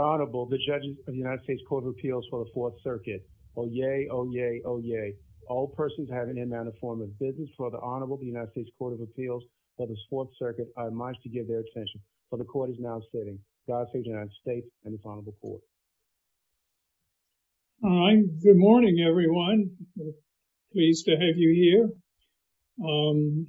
Honorable, the judges of the United States Court of Appeals for the Fourth Circuit. Oh yay, oh yay, oh yay. All persons having in mind a form of business for the Honorable the United States Court of Appeals for the Fourth Circuit are admonished to give their attention for the court is now sitting. God save the United States and its Honorable Court. Good morning everyone. Pleased to have you here and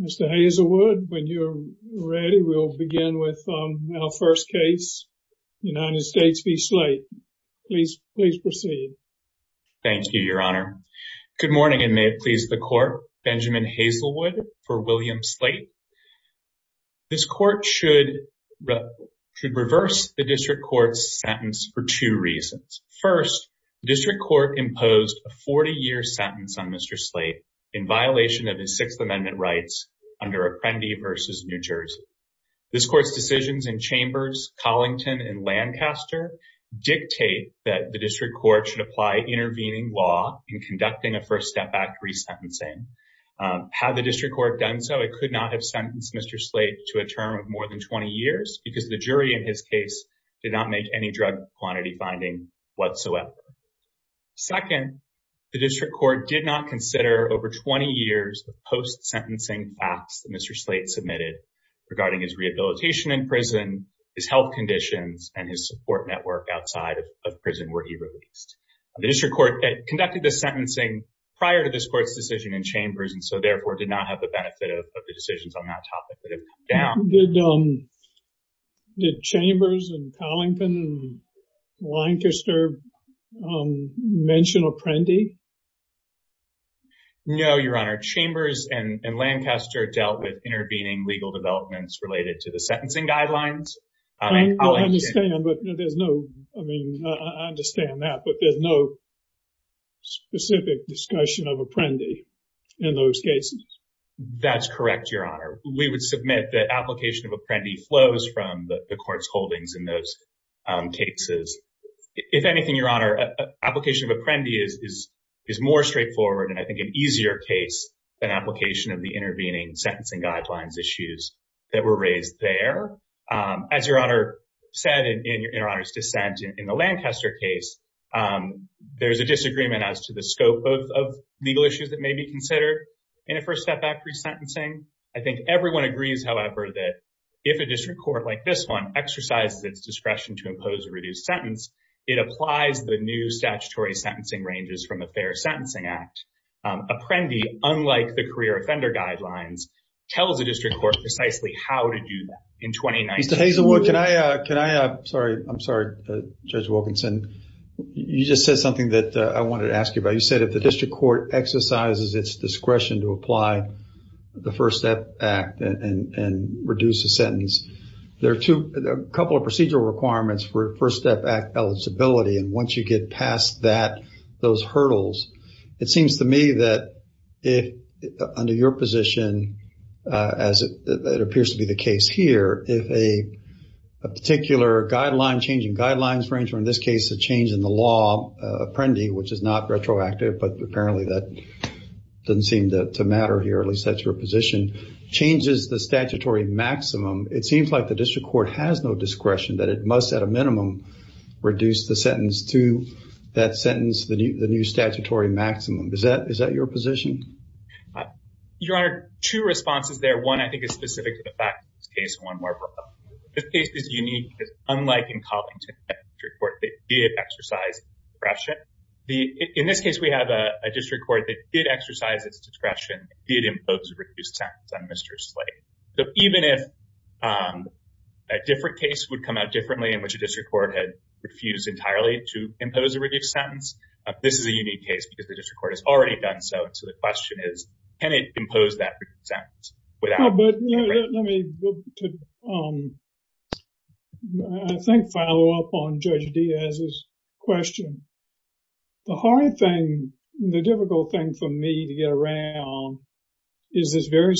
Mr. Hazelwood, when you're ready, we'll begin with our first case, United States v. Slate. Please, please proceed. Thank you, Your Honor. Good morning and may it please the Court. Benjamin Hazelwood for William Slate. This court should reverse the district court's sentence for two reasons. First, the district court imposed a 40-year sentence on Mr. Slate in violation of his Sixth Amendment rights under Apprendi v. New Jersey. This court's decisions in Chambers, Collington, and Lancaster dictate that the district court should apply intervening law in conducting a First Step Act resentencing. Had the district court done so, it could not have sentenced Mr. Slate to a term of more than 20 years because the jury in his case did not make any drug quantity finding whatsoever. Second, the district regarding his rehabilitation in prison, his health conditions, and his support network outside of prison were irreleased. The district court conducted this sentencing prior to this court's decision in Chambers and so, therefore, did not have the benefit of the decisions on that topic that have come down. Did Chambers and Collington and Lancaster mention Apprendi? No, Your Honor. Chambers and Lancaster dealt with intervening legal developments related to the sentencing guidelines. I understand that, but there's no specific discussion of Apprendi in those cases. That's correct, Your Honor. We would submit that application of Apprendi flows from the court's holdings in those cases. If anything, Your Honor, application of Apprendi is more straightforward and, I think, an easier case than application of the intervening sentencing guidelines issues that were raised there. As Your Honor said in Your Honor's dissent in the Lancaster case, there's a disagreement as to the scope of legal issues that may be considered in a First Step Act resentencing. I think everyone agrees, however, that if a district court like this one exercises its discretion to impose a reduced sentence, it applies the new statutory sentencing ranges from the Fair Sentencing Act. Apprendi, unlike the career offender guidelines, tells the district court precisely how to do that in 2019. Mr. Hazelwood, can I, sorry, I'm sorry, Judge Wilkinson. You just said something that I wanted to ask you about. You said if the district court exercises its discretion to apply the First Step Act and reduce a sentence, there are a couple of procedural requirements for First Step Act eligibility and once you get past that, those hurdles, it seems to me that if, under your position, as it appears to be the case here, if a particular guideline, changing guidelines range, or in this case, a change in the law, Apprendi, which is not retroactive, but apparently that doesn't seem to matter here, at least that's your position, that if a district court has no discretion, that it must, at a minimum, reduce the sentence to that sentence, the new statutory maximum. Is that your position? Your Honor, two responses there. One, I think, is specific to the fact of this case, and one more. This case is unique because, unlike in Covington, a district court that did exercise discretion, in this case, we have a district court that did exercise its discretion. A different case would come out differently in which a district court had refused entirely to impose a reduced sentence. This is a unique case because the district court has already done so, so the question is, can it impose that reduced sentence without... But, let me, I think, follow up on Judge Diaz's question. The hard thing, the difficult thing for me to get around is this very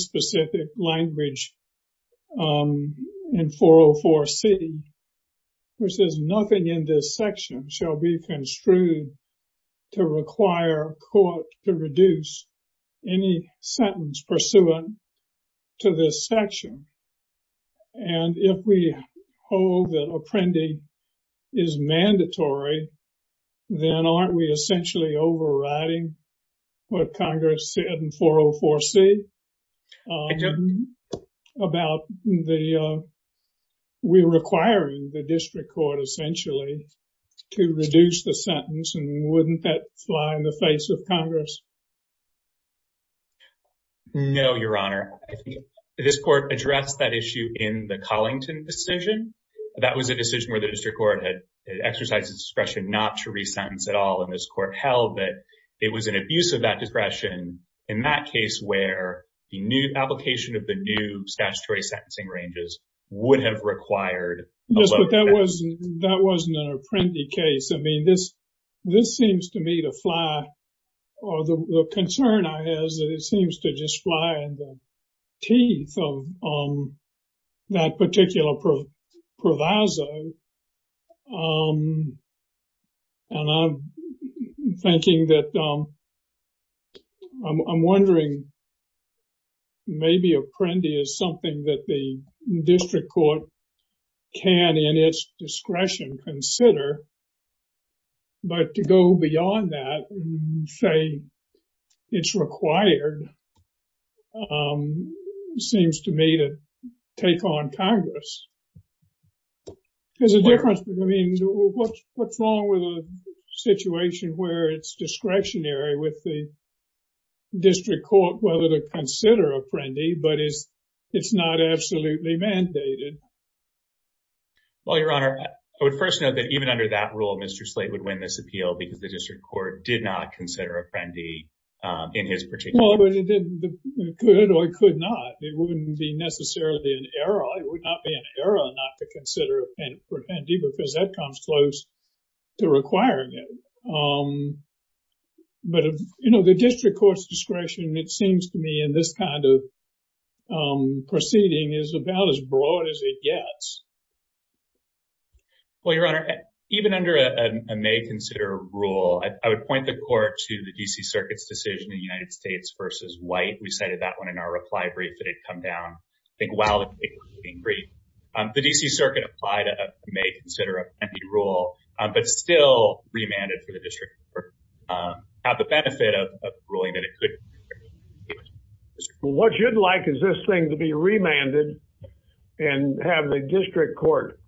question, which is, nothing in this section shall be construed to require a court to reduce any sentence pursuant to this section, and if we hold that Apprendi is mandatory, then aren't we essentially overriding what we're requiring the district court, essentially, to reduce the sentence, and wouldn't that fly in the face of Congress? No, Your Honor. I think this court addressed that issue in the Collington decision. That was a decision where the district court had exercised discretion not to resentence at all, and this court held that it was an abuse of that discretion in that case where the new application of the new Yes, but that wasn't an Apprendi case. I mean, this seems to me to fly, or the concern I have is that it seems to just fly in the teeth of that particular proviso, and I'm thinking that, I'm wondering, maybe Apprendi is something that the district court can, in its discretion, consider, but to go beyond that and say it's required seems to me to take on Congress. There's a difference, I mean, what's wrong with a situation where it's discretionary with the district court whether to consider Apprendi, but it's not absolutely mandated? Well, Your Honor, I would first note that even under that rule, Mr. Slate would win this appeal because the district court did not consider Apprendi in his particular case. Well, it could or it could not. It wouldn't be necessarily an error. It would not be an error not to consider Apprendi because that comes close to requiring it, but, you know, the district court's discretion, it seems to me, in this kind of proceeding is about as broad as it gets. Well, Your Honor, even under a may consider rule, I would point the court to the D.C. Circuit's decision in the United States versus White. We cited that one in our reply brief that had come down, I think while the case was being briefed. The D.C. Circuit applied a may consider Apprendi rule, but still remanded for the district court to have the benefit of ruling that it could. What you'd like is this thing to be remanded and have the district court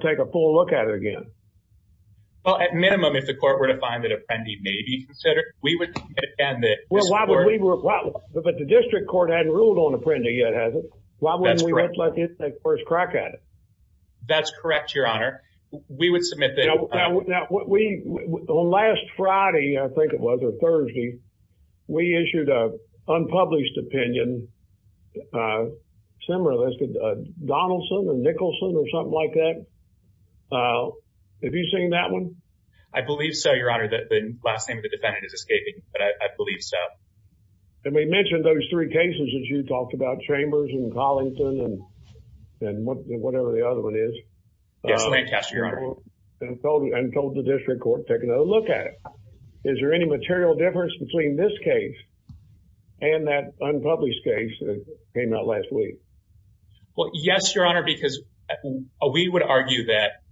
take a full look at it again. Well, at minimum, if the court were to find that Apprendi may be considered, we would defend it. Well, but the district court hadn't ruled on Apprendi yet, has it? That's correct. Why wouldn't we let them take the first crack at it? That's correct, Your Honor. We would submit that. Now, on last Friday, I think it was, or Thursday, we issued an unpublished opinion, similar to Donaldson or Nicholson or something like that. Have you seen that one? I believe so, Your Honor, that the last name of the defendant is escaping, but I believe so. And we mentioned those three cases that you talked about, Chambers and Collington and whatever the other one is. Yes, Lancaster, Your Honor. And told the district court to take another look at it. Is there any material difference between this case and that unpublished case that came out last week? Well, yes, Your Honor, because we would argue that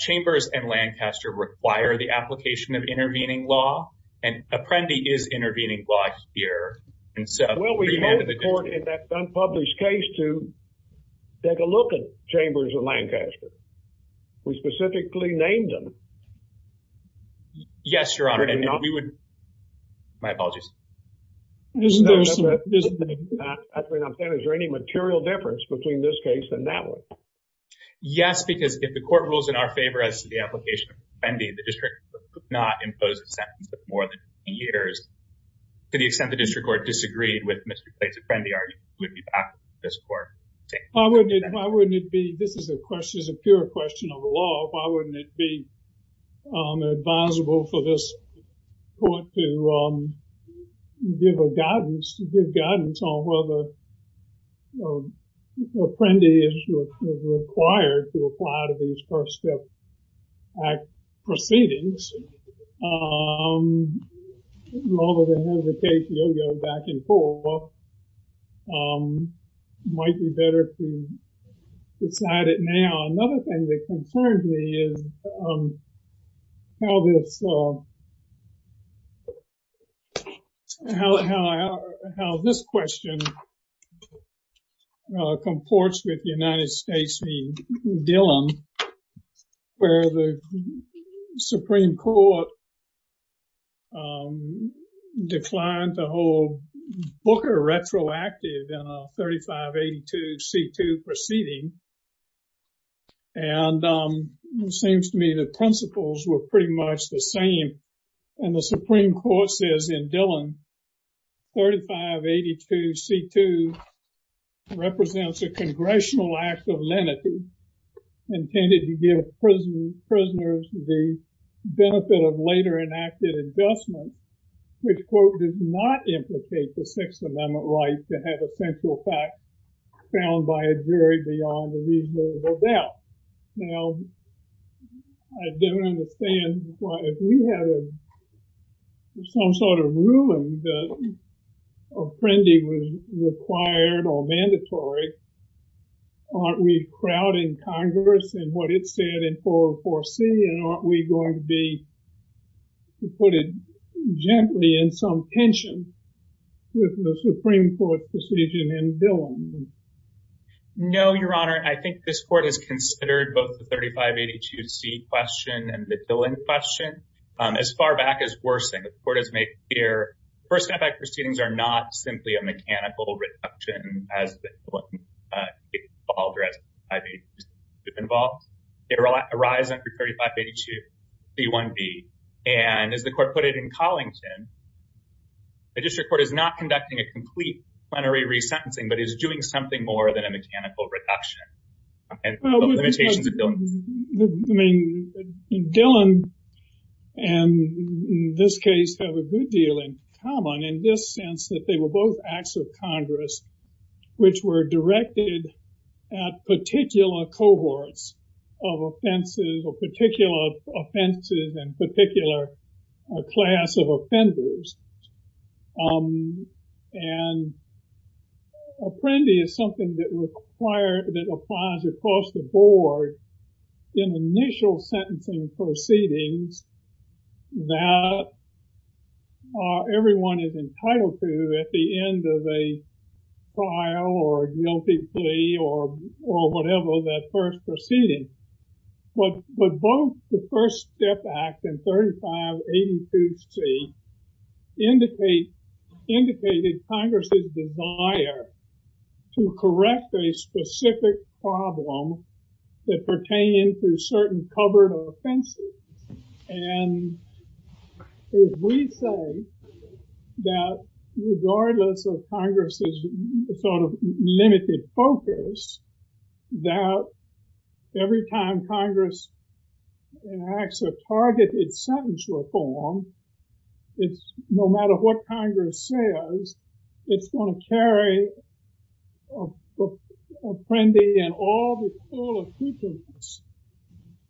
Chambers and Lancaster require the application of intervening law, and Apprendi is intervening law here. And so remanded the district court. Well, we told the court in that unpublished case to take a look at Chambers and Lancaster. We specifically named them. Yes, Your Honor, and we would... My apologies. Is there any material difference between this case and that one? Yes, because if the court rules in our favor as to the application of Apprendi, the district could not impose a sentence of more than two years, to the extent the district court disagreed with Mr. Clay's Apprendi argument, it would be back to the district court. Why wouldn't it be... This is a question, this is a pure question of the law. Why wouldn't it be advisable for this court to give a guidance, to give guidance on whether Apprendi is required to apply to these First Step Act proceedings, rather than have the case go back and forth? It might be better to decide it now. Another thing that concerns me is how this question comports with the United States v. Dillon, where the Supreme Court declined to hold Booker retroactive in a 3582 C-2 proceeding. And it seems to me the principles were pretty much the same. And the Supreme Court says in Dillon, 3582 C-2 represents a congressional act of lenity, intended to give prisoners the benefit of later enacted adjustment, which, quote, does not implicate the Sixth Amendment right to have a central fact found by a jury beyond a reasonable doubt. Now, I don't understand why, if we had some sort of ruling that Apprendi was required or mandatory, aren't we crowding Congress and what it said in 404C? And aren't we going to be putting gently in some tension with the Supreme Court's decision in Dillon? No, Your Honor. I think this Court has considered both the 3582 C question and the Dillon question. As far back as Worsing, the Court has made clear First Step Act proceedings are not simply a mechanical reduction as Dillon involved or as 3582 C-2 involved. They arise under 3582 C-1b. And as the Court put it in Collington, the District Court is not conducting a complete plenary re-sentencing, but is doing something more than a mechanical reduction. I mean, Dillon and this case have a good deal in common in this sense that they were both acts of Congress, which were directed at particular cohorts of offenses or particular offenses and particular class of offenders. And Apprendi is something that requires across the board in initial sentencing proceedings that everyone is entitled to at the end of a trial or guilty plea or whatever that first proceeding. But both the First Step Act and 3582 C indicated Congress's desire to correct a specific problem that pertained to certain covered offenses. And if we say that regardless of Congress's sort of limited focus, that every time Congress enacts a targeted sentence reform, no matter what Congress says, it's going to carry Apprendi and all of the sequence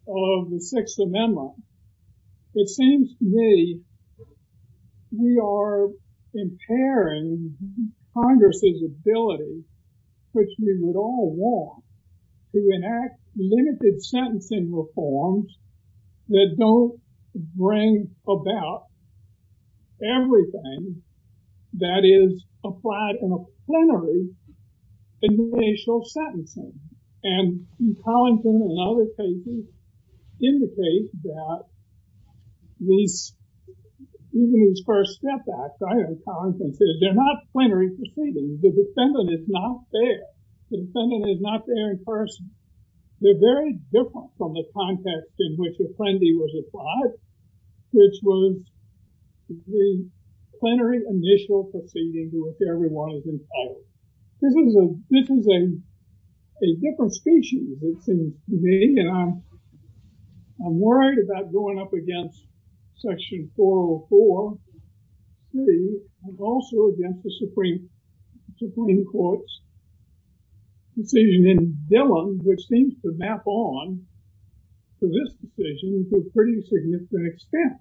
of the Sixth Amendment. It seems to me we are impairing Congress's ability, which we would all want, to enact limited sentencing reforms that don't bring about everything that is applied in a plenary initial sentencing. And Collinson and other cases indicate that even these First Step Acts, as Collinson said, they're not plenary proceedings. The defendant is not there. The defendant is not there in person. They're very different from the context in which Apprendi was applied, which was the plenary initial proceeding to which everyone is entitled. This is a different species, it seems to me, and I'm worried about going up against Section 404 and also against the Supreme Court's decision in Dillon, which seems to map on to this decision to a pretty significant extent.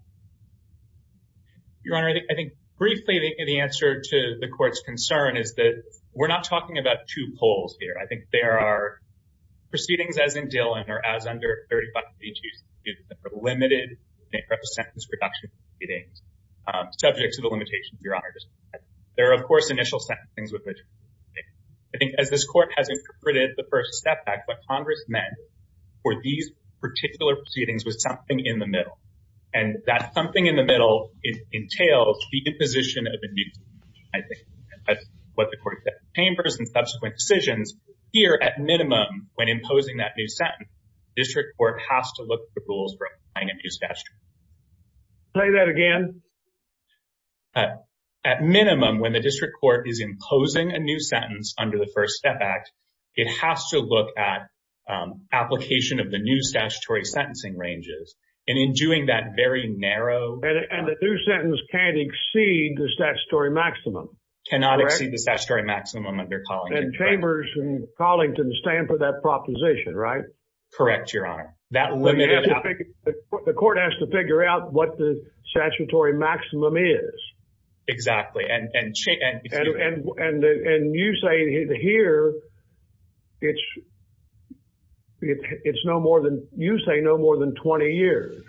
Your Honor, I think briefly the answer to the Court's concern is that we're not talking about two poles here. I think there are proceedings as in Dillon or as under 3532 that are limited in terms of sentence reduction proceedings, subject to the limitations, Your Honor. There are, of course, initial sentencings. I think as this Court has interpreted the First Step Act, what Congress meant for these particular proceedings was something in the middle, and that something in the middle entails the imposition of a new statute, I think, as what the Court said in the Chambers and subsequent decisions. Here, at minimum, when imposing that new sentence, the District Court has to look for rules for applying a new statute. Say that again. At minimum, when the District Court is imposing a new sentence under the First Step Act, it has to look at application of the new statutory sentencing ranges, and in doing that, very narrow... And the new sentence can't exceed the statutory maximum, correct? Cannot exceed the statutory maximum under Collington, correct. And Chambers and Collington stand for that proposition, right? Correct, Your Honor. That limited... The Court has to figure out what the statutory maximum is. Exactly. And you say here it's no more than... you say no more than 20 years.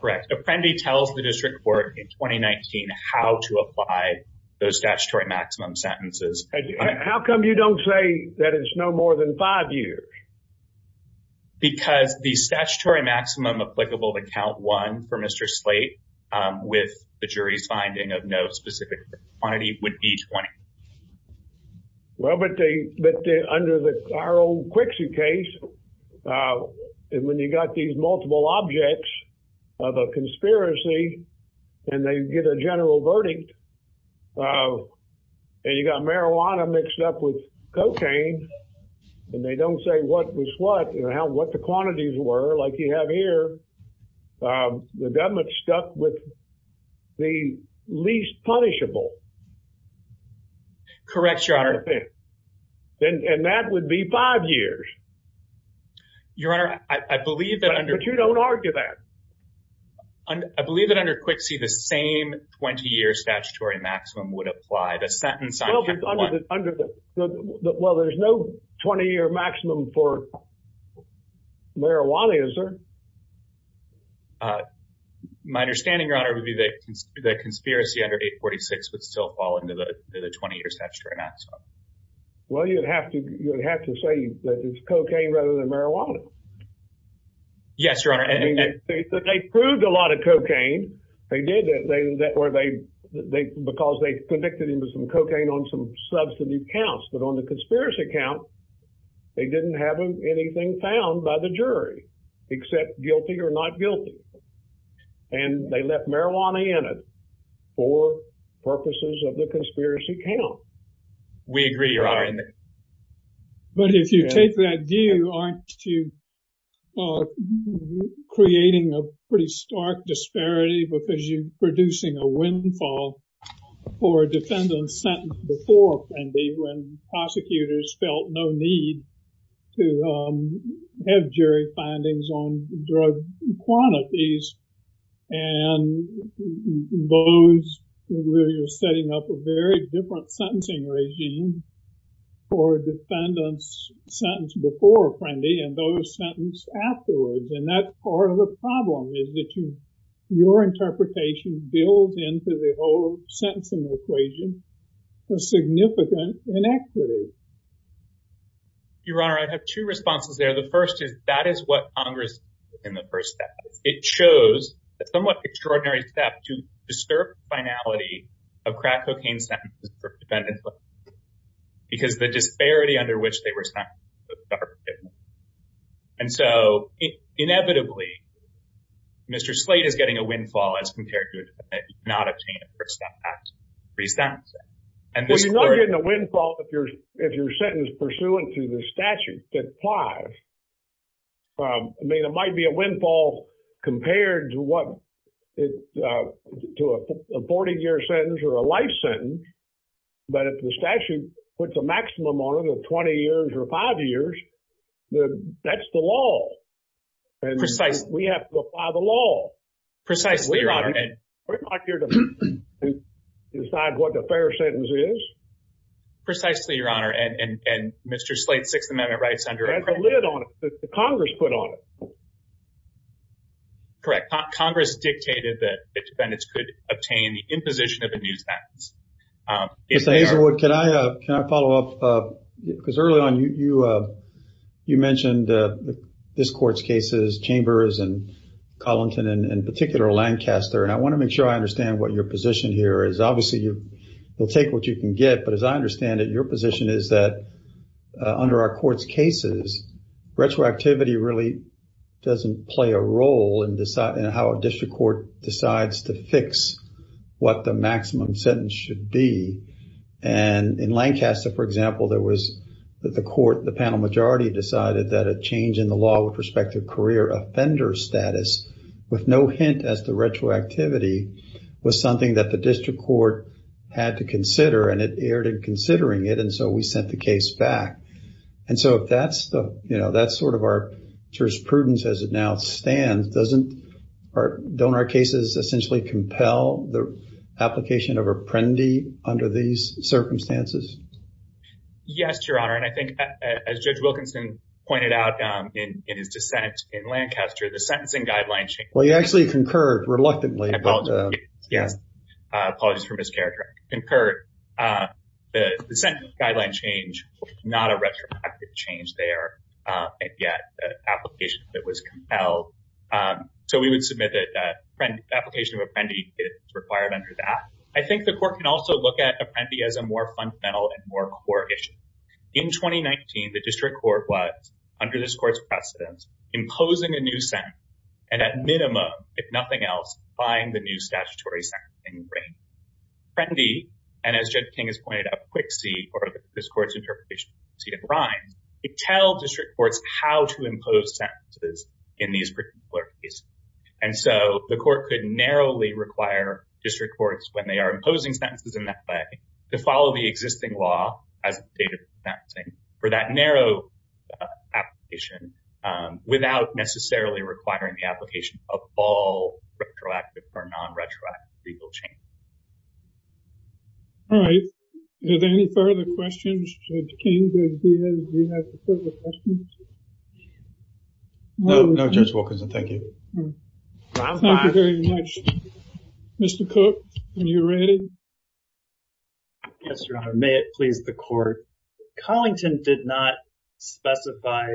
Correct. Apprendi tells the District Court in 2019 how to apply those statutory maximum sentences. How come you don't say that it's no more than five years? Because the statutory maximum applicable to Count 1 for Mr. Slate, with the jury's finding of no specific quantity, would be 20. Well, but under our old Quixie case, when you got these multiple objects of a conspiracy, and they get a general verdict, and you got marijuana mixed up with cocaine, and they don't say what was what, and what the quantities were, like you have here, the government's stuck with the least punishable. Correct, Your Honor. And that would be five years. Your Honor, I believe that under... But you don't argue that. I believe that under Quixie, the same 20-year statutory maximum would apply. The sentence... Well, there's no 20-year maximum for marijuana, is there? My understanding, Your Honor, would be that the conspiracy under 846 would still fall under the 20-year statutory maximum. Well, you'd have to say that it's cocaine rather than marijuana. Yes, Your Honor. They proved a lot of cocaine. Because they convicted him of some cocaine on some substantive counts. But on the conspiracy count, they didn't have anything found by the jury, except guilty or not guilty. And they left marijuana in it for purposes of the conspiracy count. We agree, Your Honor. But if you take that view, aren't you creating a pretty stark disparity because you're producing a windfall for a defendant sentenced before, and when prosecutors felt no need to have jury findings on drug quantities. And those where you're setting up a very different sentencing regime, for defendants sentenced before, and those sentenced afterwards. And that's part of the problem, is that your interpretation builds into the whole sentencing equation a significant inequity. Your Honor, I have two responses there. The first is that is what Congress did in the first step. It chose a somewhat extraordinary step to disturb the finality of crack cocaine sentences for defendants. Because the disparity under which they were sentenced was starkly different. And so, inevitably, Mr. Slate is getting a windfall as compared to a defendant not obtaining a first impact pre-sentence. Well, you're not getting a windfall if you're sentenced pursuant to the statute that applies. I mean, it might be a windfall compared to what, to a 40-year sentence or a life sentence. But if the statute puts a maximum on it of 20 years or five years, that's the law. And we have to apply the law. Precisely, Your Honor. We're not here to decide what the fair sentence is. Precisely, Your Honor. And Mr. Slate's Sixth Amendment rights under— It has a lid on it that Congress put on it. Correct. Congress dictated that defendants could obtain the imposition of a new sentence. Mr. Hazelwood, can I follow up? Because early on, you mentioned this Court's cases, Chambers and Collington, and in particular, Lancaster. And I want to make sure I understand what your position here is. Obviously, you'll take what you can get. But as I understand it, your position is that under our Court's cases, retroactivity really doesn't play a role in how a district court decides to fix what the maximum sentence should be. And in Lancaster, for example, there was the court, the panel majority, decided that a change in the law with respect to career offender status, with no hint as to retroactivity, was something that the district court had to consider. And it erred in considering it. And so we sent the case back. And so if that's the, you know, that's sort of our jurisprudence as it now stands, doesn't, or don't our cases essentially compel the application of apprendi under these circumstances? Yes, Your Honor. And I think as Judge Wilkinson pointed out in his dissent in Lancaster, the sentencing guideline change- Well, you actually concurred reluctantly. I apologize for mischaracter. Concurred. The sentencing guideline change, not a retroactive change there. And yet the application of it was compelled. So we would submit that the application of apprendi is required under that. I think the court can also look at apprendi as a more fundamental and more core issue. In 2019, the district court was, under this court's precedent, imposing a new sentence, and at minimum, if nothing else, buying the new statutory sentencing ring. Apprendi, and as Judge King has pointed out, Quixi, or this court's interpretation of Quixi, it tells district courts how to impose sentences in these particular cases. And so the court could narrowly require district courts, when they are imposing sentences in that way, to follow the existing law as a state of sentencing for that narrow application without necessarily requiring the application of all retroactive or non-retroactive legal change. All right. Are there any further questions? Judge King, Judge Diaz, do you have further questions? No, no, Judge Wilkinson. Thank you. Thank you very much. Mr. Cook, are you ready? Yes, Your Honor. May it please the court. Collington did not specify,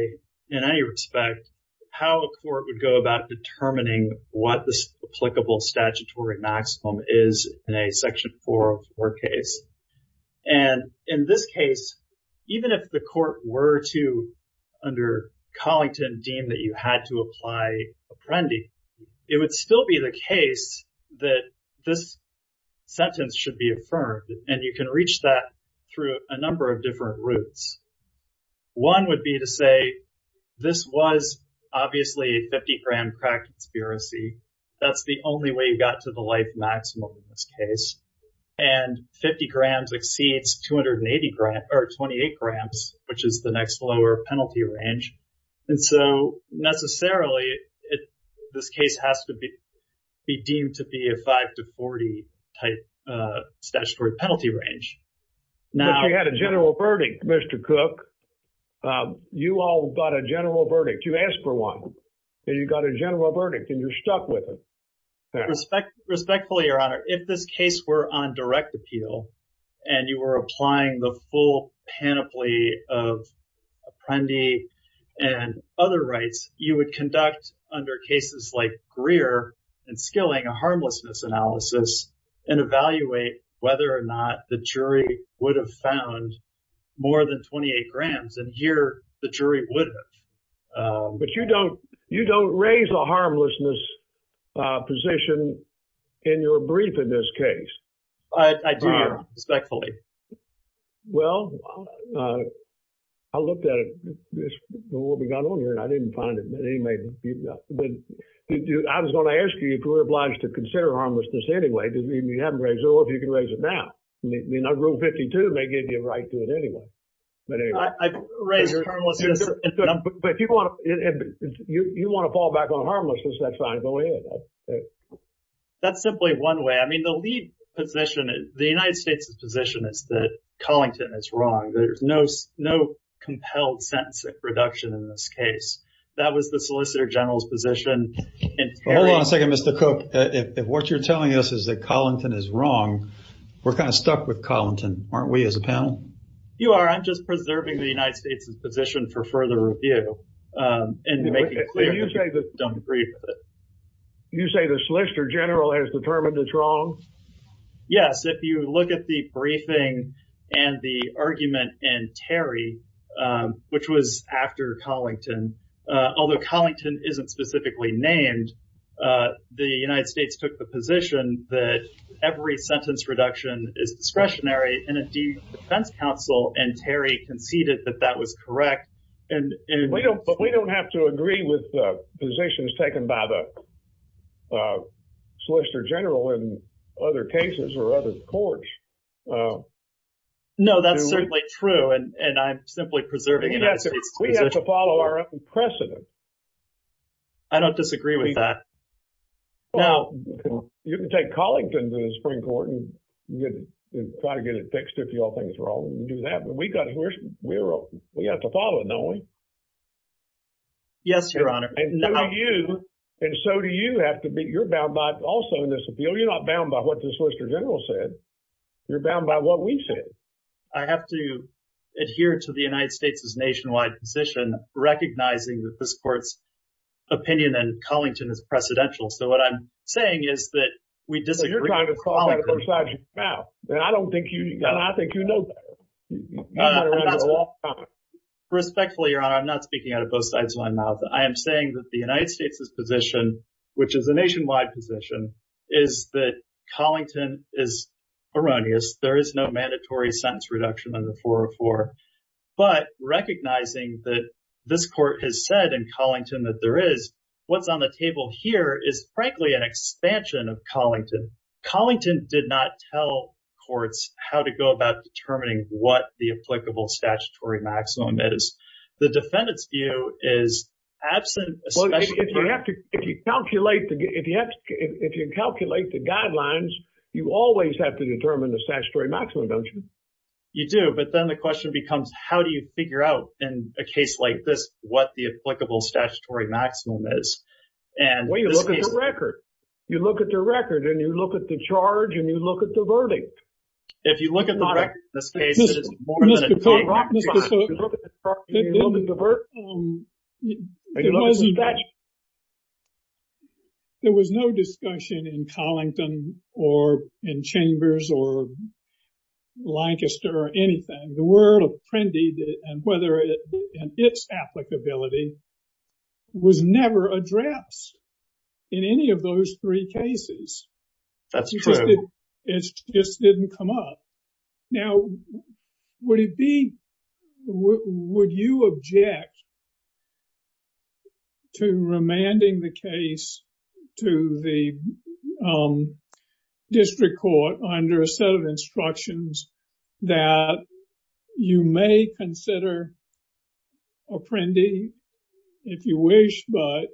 in any respect, how a court would go about determining what the applicable statutory maximum is in a section 404 case. And in this case, even if the court were to, under Collington, deem that you had to apply Apprendi, it would still be the case that this sentence should be affirmed. And you can reach that through a number of different routes. One would be to say, this was obviously a 50-gram crack conspiracy. That's the only way you got to the life maximum in this case. And 50 grams exceeds 28 grams, which is the next lower penalty range. And so necessarily, this case has to be deemed to be a 5-40 type statutory penalty range. But you had a general verdict, Mr. Cook. You all got a general verdict. You asked for one, and you got a general verdict, and you're stuck with it. Respectfully, Your Honor. If this case were on direct appeal, and you were applying the full panoply of Apprendi and other rights, you would conduct, under cases like Greer and Skilling, a harmlessness analysis and evaluate whether or not the jury would have found more than 28 grams. And here, the jury would have. But you don't raise a harmlessness position in your brief in this case. I do, Your Honor, respectfully. Well, I looked at it before we got on here, and I didn't find it. I was going to ask you if you were obliged to consider harmlessness anyway. You haven't raised it. Well, if you can raise it now. Rule 52 may give you a right to it anyway. I've raised harmlessness. But if you want to fall back on harmlessness, that's fine. That's simply one way. I mean, the lead position, the United States' position is that Collington is wrong. There's no compelled sentence reduction in this case. That was the Solicitor General's position. Hold on a second, Mr. Cook. If what you're telling us is that Collington is wrong, we're kind of stuck with Collington, aren't we, as a panel? You are. I'm just preserving the United States' position for further review and making clear that we don't agree with it. You say the Solicitor General has determined it's wrong? Yes. If you look at the briefing and the argument in Terry, which was after Collington, although Collington isn't specifically named, the United States took the position that every sentence reduction is discretionary, in a defense counsel, and Terry conceded that that was correct. But we don't have to agree with positions taken by the Solicitor General in other cases or other courts. No, that's certainly true, and I'm simply preserving the United States' position. We have to follow our own precedent. I don't disagree with that. Now, you can take Collington to the Supreme Court and try to get it fixed if you all think it's wrong and do that, but we have to follow it, don't we? Yes, Your Honor. And so do you. And so do you have to be. You're bound by, also in this appeal, you're not bound by what the Solicitor General said. You're bound by what we said. I have to adhere to the United States' nationwide position, recognizing that this Court's opinion in Collington is precedential. So what I'm saying is that we disagree. You're trying to talk out of both sides of your mouth, and I don't think you do. I think you know better. Respectfully, Your Honor, I'm not speaking out of both sides of my mouth. I am saying that the United States' position, which is a nationwide position, is that Collington is erroneous. There is no mandatory sentence reduction under 404. But recognizing that this Court has said in Collington that there is, what's on the table here is, frankly, an expansion of Collington. Collington did not tell courts how to go about determining what the applicable statutory maximum is. The defendant's view is absent. Well, if you calculate the guidelines, you always have to determine the statutory maximum, don't you? You do. But then the question becomes, how do you figure out, in a case like this, what the applicable statutory maximum is? Well, you look at the record. You look at the record, and you look at the charge, and you look at the verdict. If you look at the record in this case, it is more than a day after the crime. Mr. Thornton, there was no discussion in Collington, or in Chambers, or Lancaster, or anything. The word of Prendy, and whether it's applicability, was never addressed in any of those three cases. That's true. It just didn't come up. Now, would you object to remanding the case to the district court under a set of instructions that you may consider a Prendy, if you wish, but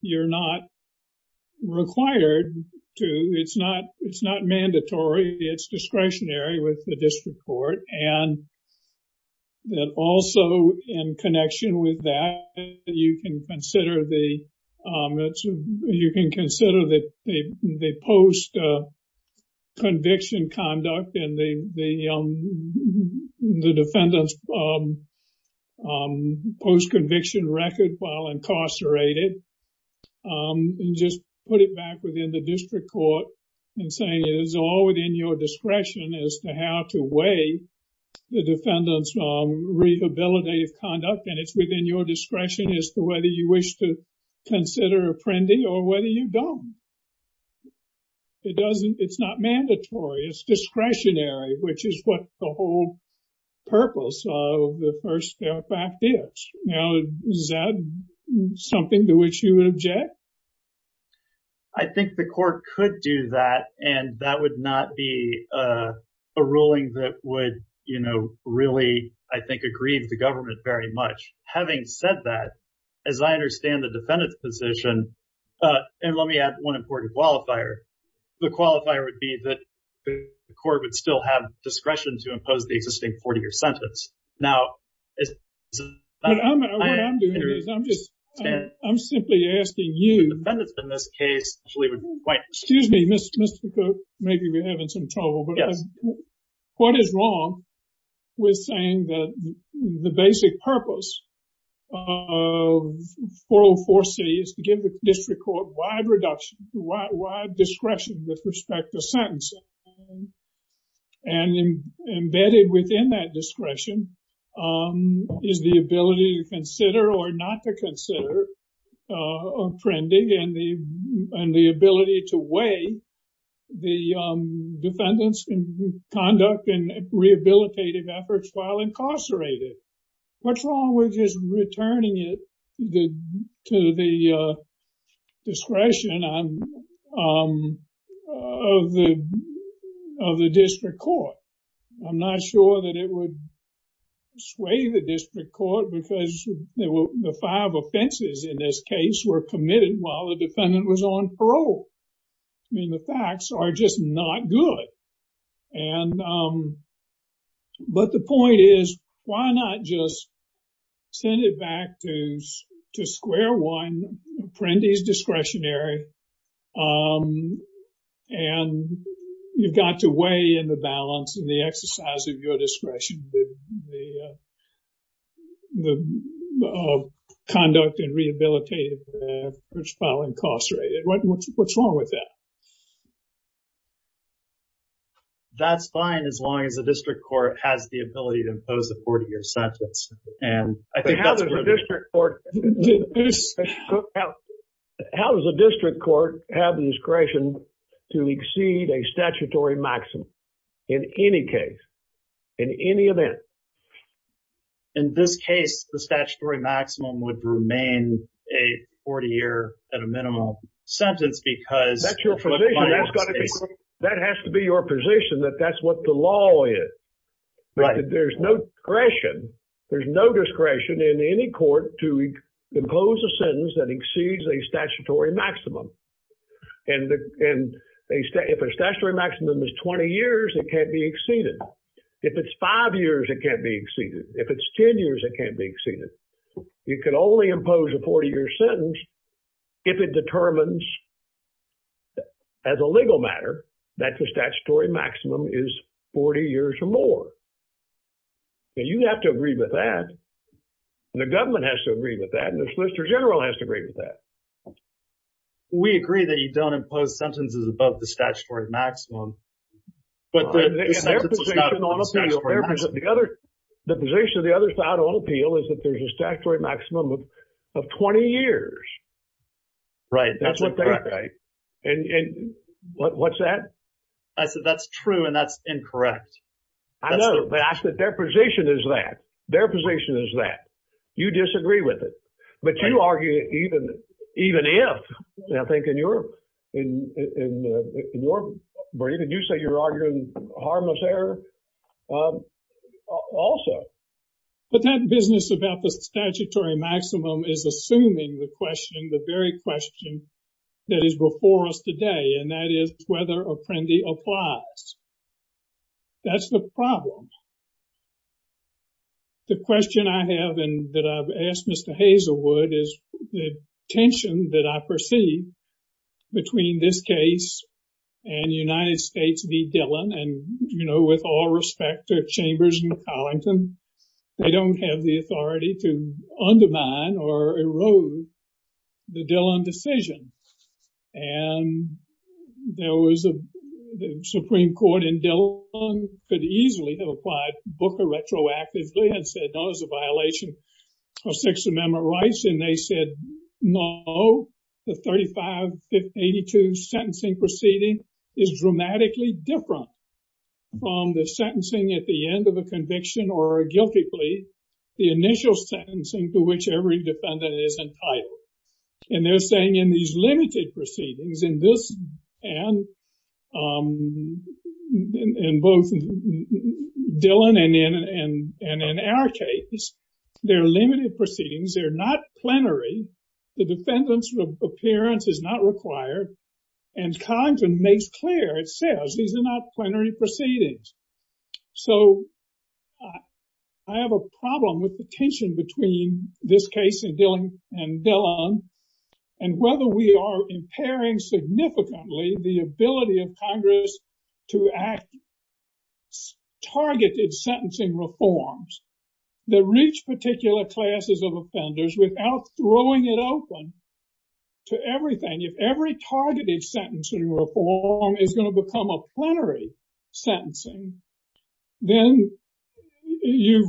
you're not required to. It's not mandatory. It's discretionary with the district court. And also, in connection with that, you can consider the post-conviction conduct, and the defendant's post-conviction record while incarcerated. Just put it back within the district court, and saying it is all within your discretion as to how to weigh the defendant's rehabilitative conduct, and it's within your discretion as to whether you wish to consider a Prendy, or whether you don't. It's not mandatory. It's discretionary, which is what the whole purpose of the first step act is. Now, is that something to which you would object? I think the court could do that, and that would not be a ruling that would, you know, really, I think, aggrieve the government very much. Having said that, as I understand the defendant's position, and let me add one important qualifier. The qualifier would be that the court would still have discretion to impose the existing 40-year sentence. Now, I'm just, I'm simply asking you. In this case, excuse me, Mr. Cook, maybe we're having some trouble, but what is wrong with saying that the basic purpose of 404C is to give the district court wide reduction, wide discretion with respect to sentencing, and embedded within that discretion is the ability to consider, or not to consider, offending and the ability to weigh the defendant's conduct and rehabilitative efforts while incarcerated. What's wrong with just returning it to the discretion of the district court? I'm not sure that it would sway the district court because the five offenses in this case were committed while the defendant was on parole. I mean, the facts are just not good. And, but the point is, why not just send it back to square one, apprentice discretionary, and you've got to weigh in the balance and the exercise of your discretion with the conduct and rehabilitative efforts while incarcerated. What's wrong with that? That's fine as long as the district court has the ability to impose the 40-year sentence. And I think that's- But how does the district court, how does the district court have the discretion to exceed a statutory maximum in any case, in any event? In this case, the statutory maximum would remain a 40-year at a minimum sentence because- That's your position. That has to be your position that that's what the law is. There's no discretion. There's no discretion in any court to impose a sentence that exceeds a statutory maximum. And if a statutory maximum is 20 years, it can't be exceeded. If it's five years, it can't be exceeded. If it's 10 years, it can't be exceeded. You can only impose a 40-year sentence if it determines as a legal matter that the statutory maximum is 40 years or more. And you have to agree with that. And the government has to agree with that. And the Solicitor General has to agree with that. So, we agree that you don't impose sentences above the statutory maximum. But the position of the other side on appeal is that there's a statutory maximum of 20 years. Right. That's what they- That's incorrect, right? And what's that? I said that's true and that's incorrect. I know, but their position is that. Their position is that. You disagree with it. But you argue even if. I think in your- Did you say you're arguing harmless error? Also. But that business about the statutory maximum is assuming the question, the very question that is before us today. And that is whether Apprendi applies. That's the problem. The question I have and that I've asked Mr. Hazelwood is the tension that I perceive between this case and the United States v. Dillon. And, you know, with all respect to Chambers and Collington, they don't have the authority to undermine or erode the Dillon decision. And there was a Supreme Court in Dillon could easily have applied Booker retroactively and said, no, it's a violation of Sixth Amendment rights. And they said, no, the 3582 sentencing proceeding is dramatically different from the sentencing at the end of a conviction or a guilty plea. The initial sentencing to which every defendant is entitled. And they're saying in these limited proceedings in this and in both Dillon and in our case, they're limited proceedings. They're not plenary. The defendant's appearance is not required. And Collington makes clear, it says, these are not plenary proceedings. So I have a problem with the tension between this case and Dillon. And whether we are impairing significantly the ability of Congress to act targeted sentencing reforms that reach particular classes of offenders without throwing it open to everything. If every targeted sentencing reform is going to become a plenary sentencing, then you've,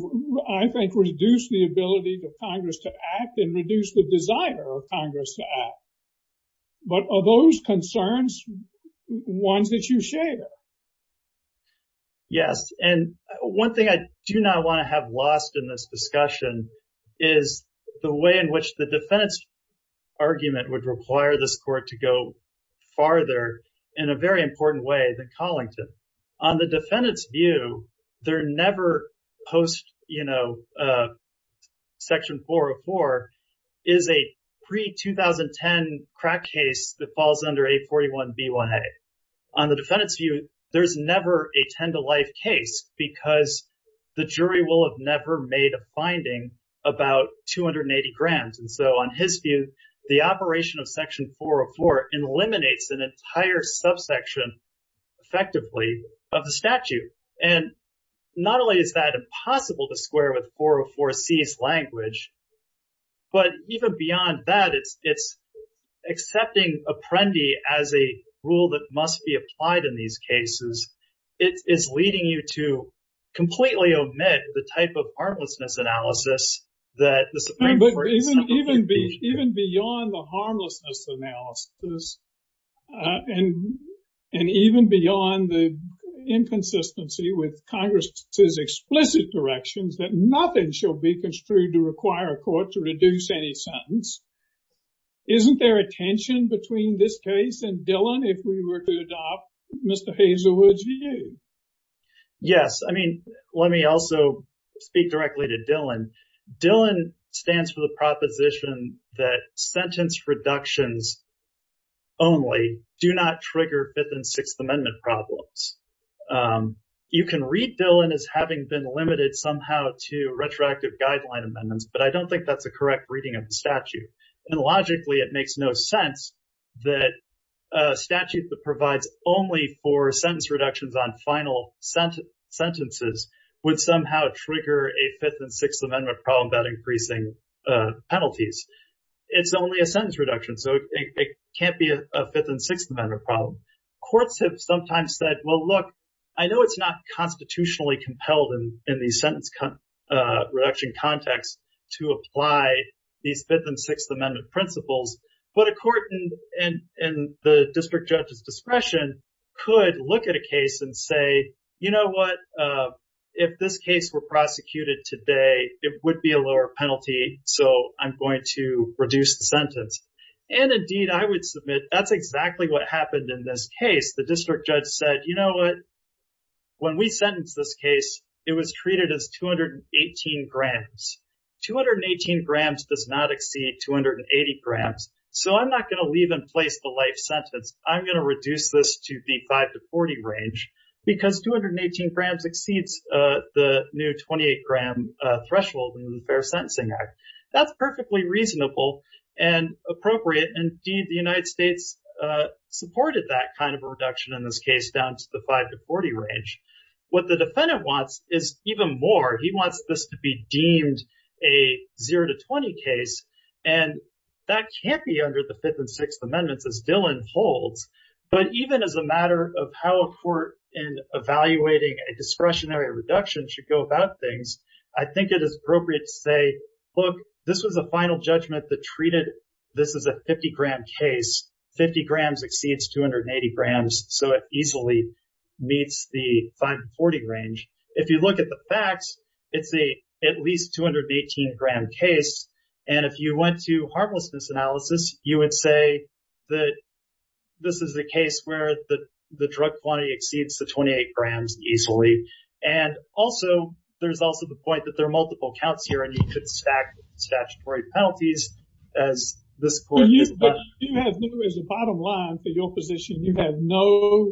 I think, reduced the ability of Congress to act and reduced the desire of Congress to act. But are those concerns ones that you share? Yes. And one thing I do not want to have lost in this discussion is the way in which the defendant's argument would require this court to go farther in a very important way than Collington. On the defendant's view, they're never post Section 404 is a pre-2010 crack case that falls under 841B1A. On the defendant's view, there's never a 10 to life case because the jury will have never made a finding about 280 grams. And so on his view, an entire subsection effectively of the statute. And not only is that impossible to square with 404C's language, but even beyond that, it's accepting Apprendi as a rule that must be applied in these cases. It is leading you to completely omit the type of harmlessness analysis that the Supreme Court is not affecting. Even beyond the harmlessness analysis and even beyond the inconsistency with Congress's explicit directions that nothing shall be construed to require a court to reduce any sentence. Isn't there a tension between this case and Dillon if we were to adopt Mr. Hazelwood's view? I mean, let me also speak directly to Dillon. Dillon stands for the proposition that sentence reductions only do not trigger Fifth and Sixth Amendment problems. You can read Dillon as having been limited somehow to retroactive guideline amendments, but I don't think that's a correct reading of the statute. And logically it makes no sense that a statute that provides only for sentence reductions on final sentences would somehow trigger a Fifth and Sixth Amendment problem without increasing penalties. It's only a sentence reduction, so it can't be a Fifth and Sixth Amendment problem. Courts have sometimes said, well, look, I know it's not constitutionally compelled in the sentence reduction context to apply these Fifth and Sixth Amendment principles, but a court in the district judge's discretion could look at a case and say, you know what, if this case were prosecuted today, it would be a lower penalty, so I'm going to reduce the sentence. And indeed, I would submit that's exactly what happened in this case. The district judge said, you know what, when we sentenced this case, it was treated as 218 grams. 218 grams does not exceed 280 grams, so I'm not going to leave in place the life sentence. I'm going to reduce this to the five to 40 range because 218 grams exceeds the new 28-gram threshold in the Fair Sentencing Act. That's perfectly reasonable and appropriate. Indeed, the United States supported that kind of a reduction in this case down to the five to 40 range. What the defendant wants is even more. He wants this to be deemed a zero to 20 case, and that can't be under the Fifth and Sixth Amendments as Dillon holds, but even as a matter of how a court in evaluating a discretionary reduction should go about things, I think it is appropriate to say, look, this was a final judgment that treated this as a 50-gram case. 50 grams exceeds 280 grams, so it easily meets the five to 40 range. If you look at the facts, it's at least 218-gram case, and if you went to harmlessness analysis, you would say that this is the case where the drug quantity exceeds the 28 grams easily, and also there's also the point that there are multiple counts here and you could stack statutory penalties as this court did that. You have, as a bottom line for your position, you have no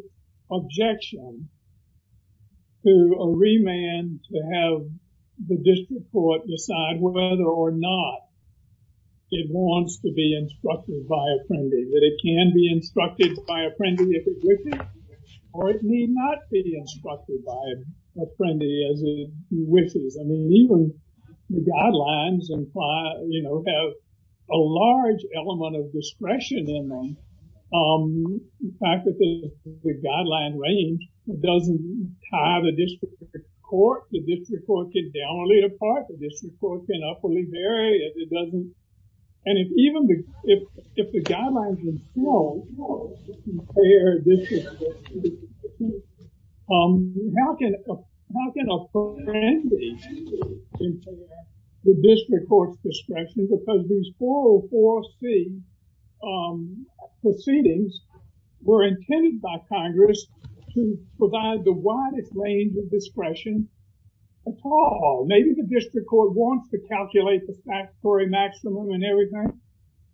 objection to a remand to have the district court decide whether or not it wants to be instructed by apprendee, that it can be instructed by apprendee if it wishes, or it need not be instructed by apprendee as it wishes. I mean, even the guidelines have a large element of discretion in them. The fact that the guideline range doesn't tie the district court, the district court can downplay a part, the district court can upperly vary, if it doesn't, and if even the, if the guidelines themselves compare district court, how can apprendee interfere with district court's discretion because these 404C proceedings were intended by Congress to provide the widest range of discretion at all. Maybe the district court wants to calculate the statutory maximum and everything,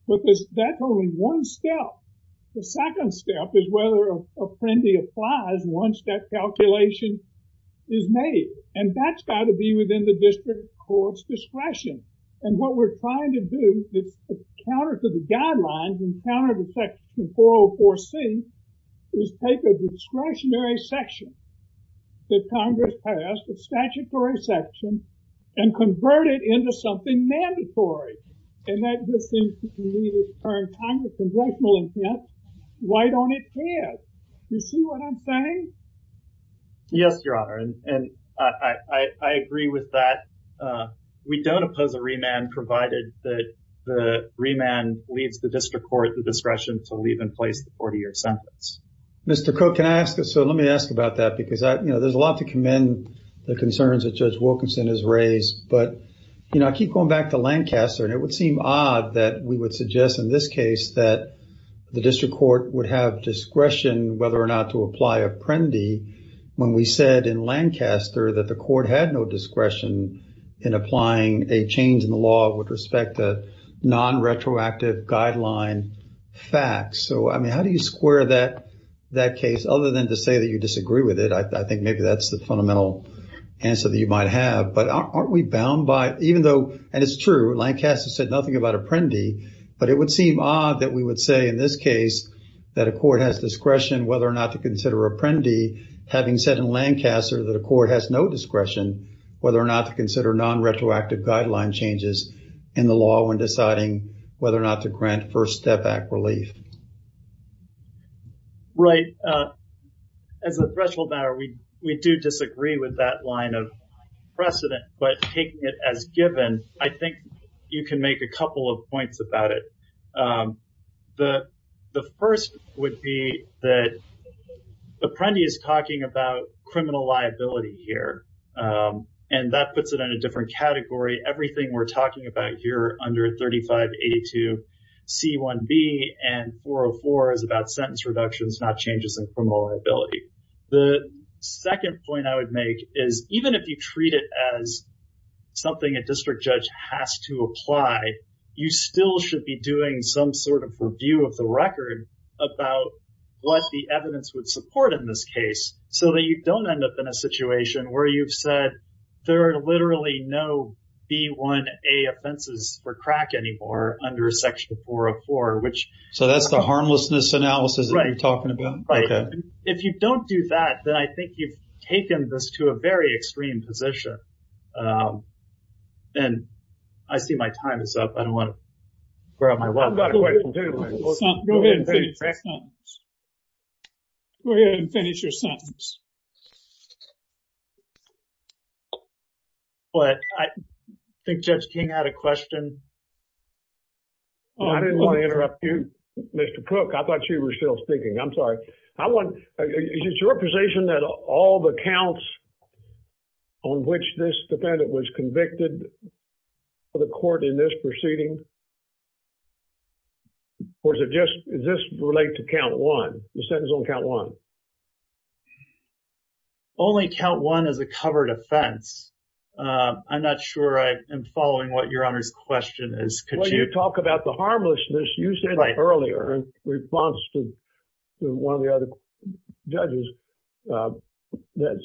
but that's only one step. The second step is whether an apprendee applies once that calculation is made, and that's got to be within the district court's discretion. And what we're trying to do, that's counter to the guidelines and counter to section 404C, is take a discretionary section that Congress passed, a statutory section, and convert it into something mandatory, and that just seems to be needed at the current time with congressional intent. Why don't it care? Do you see what I'm saying? Yes, Your Honor, and I agree with that. We don't oppose a remand provided that the remand leaves the district court the discretion to leave in place the 40-year sentence. Mr. Koch, can I ask, so let me ask about that because, you know, there's a lot to commend the concerns that Judge Wilkinson has raised, but, you know, I keep going back to Lancaster, and it would seem odd that we would suggest in this case that the district court would have discretion whether or not to apply apprendee when we said in Lancaster that the court had no discretion in applying a change in the law with respect to non-retroactive guideline facts. So, I mean, how do you square that case other than to say that you disagree with it? I think maybe that's the fundamental answer that you might have, but aren't we bound by, even though, and it's true, Lancaster said nothing about apprendee, but it would seem odd that we would say in this case that a court has discretion whether or not to consider apprendee having said in Lancaster that a court has no discretion whether or not to consider non-retroactive guideline changes in the law when deciding whether or not to grant First Step Act relief. Right, as a threshold now, we do disagree with that line of precedent, but taking it as given, I think you can make a couple of points about it. The first would be that apprendee is talking about criminal liability here, and that puts it in a different category. Everything we're talking about here under 3582C1B and 404 is about sentence reductions, not changes in criminal liability. The second point I would make is, even if you treat it as something a district judge has to apply, you still should be doing some sort of review of the record about what the evidence would support in this case so that you don't end up in a situation where you've said there are literally no B1A offenses for crack anymore under Section 404, which... So that's the harmlessness analysis that you're talking about? Right. If you don't do that, then I think you've taken this to a very extreme position. And I see my time is up. I don't want to grow out my wealth. I've got a question. Go ahead and finish your sentence. But I think Judge King had a question. Oh, I didn't want to interrupt you, Mr. Prook. I thought you were still speaking. I'm sorry. Is it your position that all the counts on which this defendant was convicted for the court in this proceeding, or does this relate to count one, the sentence on count one? Only count one is a covered offense. I'm not sure I am following what Your Honor's question is. Could you... Well, you talk about the harmlessness. You said earlier in response to one of the other judges that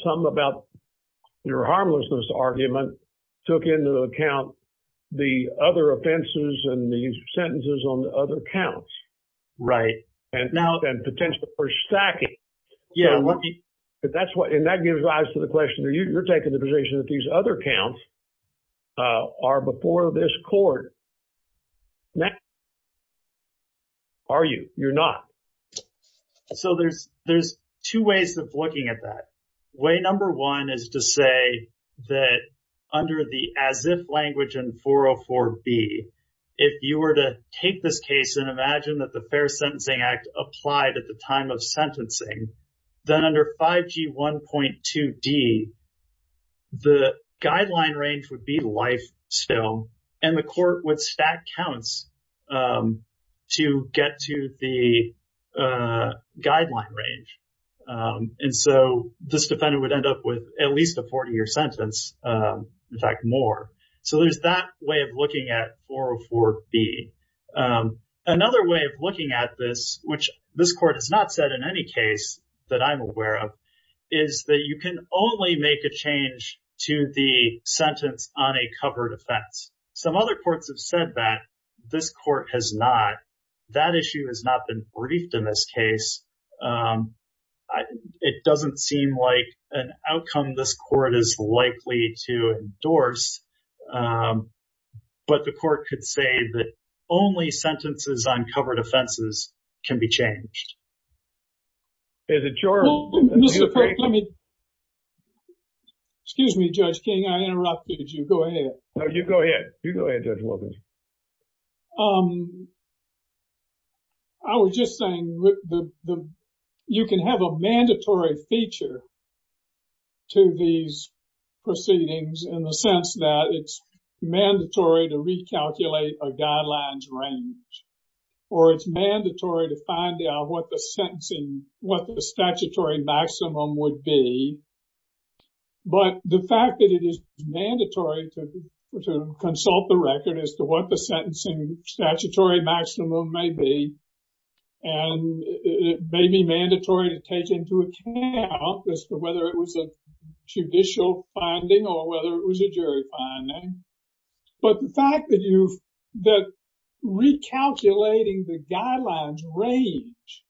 something about your harmlessness argument took into account the other offenses and the sentences on the other counts. Right. And potential for stacking. And that gives rise to the question, you're taking the position that these other counts are before this court. Are you? You're not. So there's two ways of looking at that. Way number one is to say that under the as if language in 404B, if you were to take this case and imagine that the Fair Sentencing Act applied at the time of sentencing, then under 5G1.2D, the guideline range would be life still, and the court would stack counts to get to the guideline range. And so this defendant would end up with at least a 40-year sentence, in fact, more. So there's that way of looking at 404B. Another way of looking at this, which this court has not said in any case, that I'm aware of, is that you can only make a change to the sentence on a covered offense. Some other courts have said that this court has not. That issue has not been briefed in this case. It doesn't seem like an outcome this court is likely to endorse. But the court could say that only sentences on covered offenses can be changed. Is it your opinion? Mr. Kirk, let me... Excuse me, Judge King. I interrupted you. Go ahead. No, you go ahead. You go ahead, Judge Wilkins. I was just saying you can have a mandatory feature to these proceedings in the sense that it's mandatory to recalculate a guideline's range, or it's mandatory to find out what the statutory maximum would be. But the fact that it is mandatory to consult the record as to what the sentencing statutory maximum may be, and it may be mandatory to take into account as to whether it was a judicial finding or whether it was a jury finding. But the fact that recalculating the guidelines range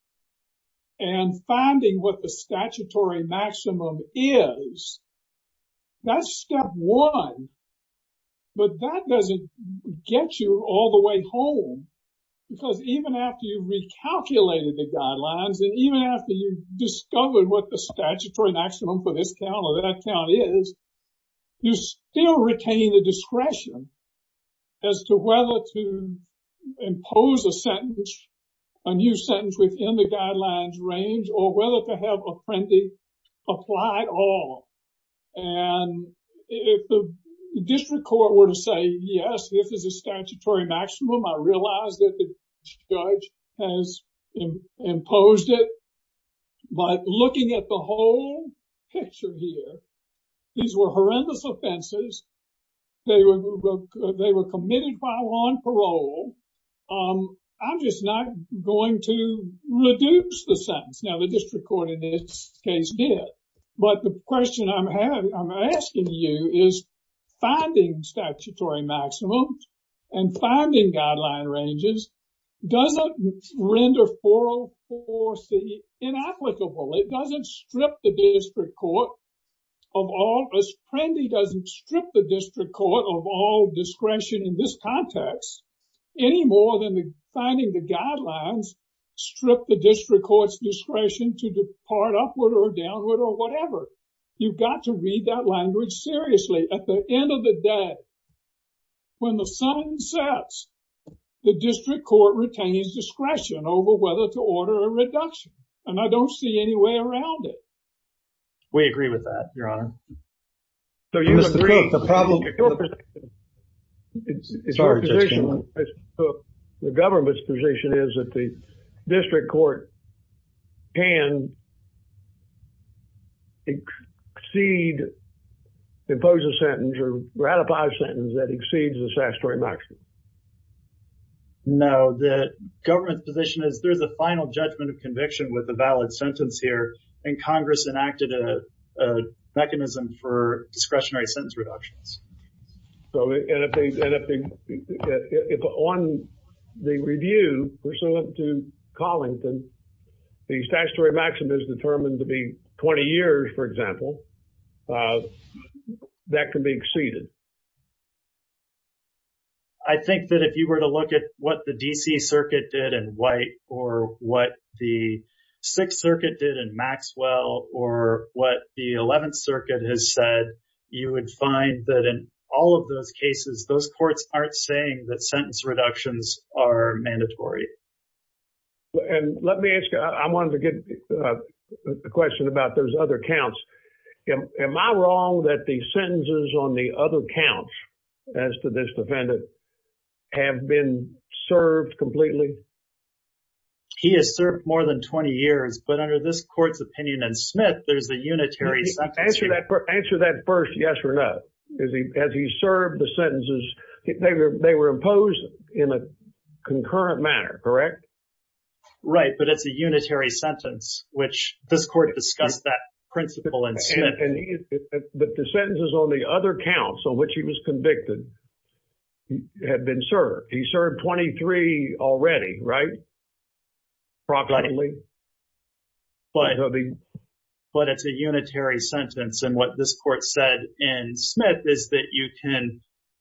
and finding what the statutory maximum is, that's step one. But that doesn't get you all the way home because even after you recalculated the guidelines and even after you discovered what the statutory maximum for this town or that town is, you still retain the discretion as to whether to impose a sentence, a new sentence within the guidelines range, or whether to have a friendly apply all. And if the district court were to say, yes, this is a statutory maximum, I realize that the judge has imposed it. But looking at the whole picture here, these were horrendous offenses. They were committed while on parole. I'm just not going to reduce the sentence. Now, the district court in this case did. But the question I'm asking you is finding statutory maximum and finding guideline ranges doesn't render 404C inapplicable. It doesn't strip the district court of all, as friendly doesn't strip the district court of all discretion in this context any more than finding the guidelines strip the district court's discretion to depart upward or downward or whatever. You've got to read that language seriously. At the end of the day, when the sun sets, the district court retains discretion over whether to order a reduction. And I don't see any way around it. We agree with that, Your Honor. So you agree, the problem. The government's position is that the district court can exceed, impose a sentence or ratify a sentence that exceeds the statutory maximum. No, the government's position is there's a final judgment of conviction with a valid sentence here and Congress enacted a mechanism for discretionary sentence reductions. So if on the review, pursuant to Collington, the statutory maximum is determined to be 20 years, for example, that can be exceeded. I think that if you were to look at what the D.C. Circuit did in White or what the Sixth Circuit did in Maxwell or what the Eleventh Circuit has said, you would find that in all of those cases, those courts aren't saying that sentence reductions are mandatory. And let me ask you, I wanted to get a question about those other counts. Am I wrong that the sentences on the other counts, as to this defendant, have been served completely? He has served more than 20 years, but under this court's opinion and Smith, there's a unitary sentence. Answer that first, yes or no. As he served the sentences, they were imposed in a concurrent manner, correct? Right, but it's a unitary sentence, which this court discussed that principle in Smith. But the sentences on the other counts on which he was convicted have been served. He served 23 already, right? Probably. But it's a unitary sentence. And what this court said in Smith is that you can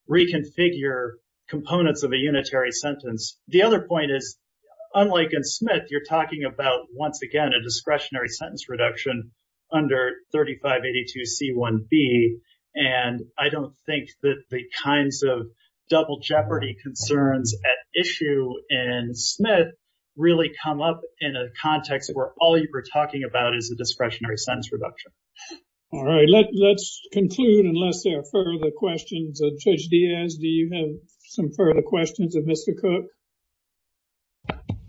reconfigure components of a unitary sentence. The other point is, unlike in Smith, you're talking about, once again, a discretionary sentence reduction under 3582C1B. And I don't think that the kinds of double jeopardy concerns at issue in Smith really come up in a context where all you were talking about is a discretionary sentence reduction. All right, let's conclude unless there are further questions. Judge Diaz, do you have some further questions of Mr. Cook?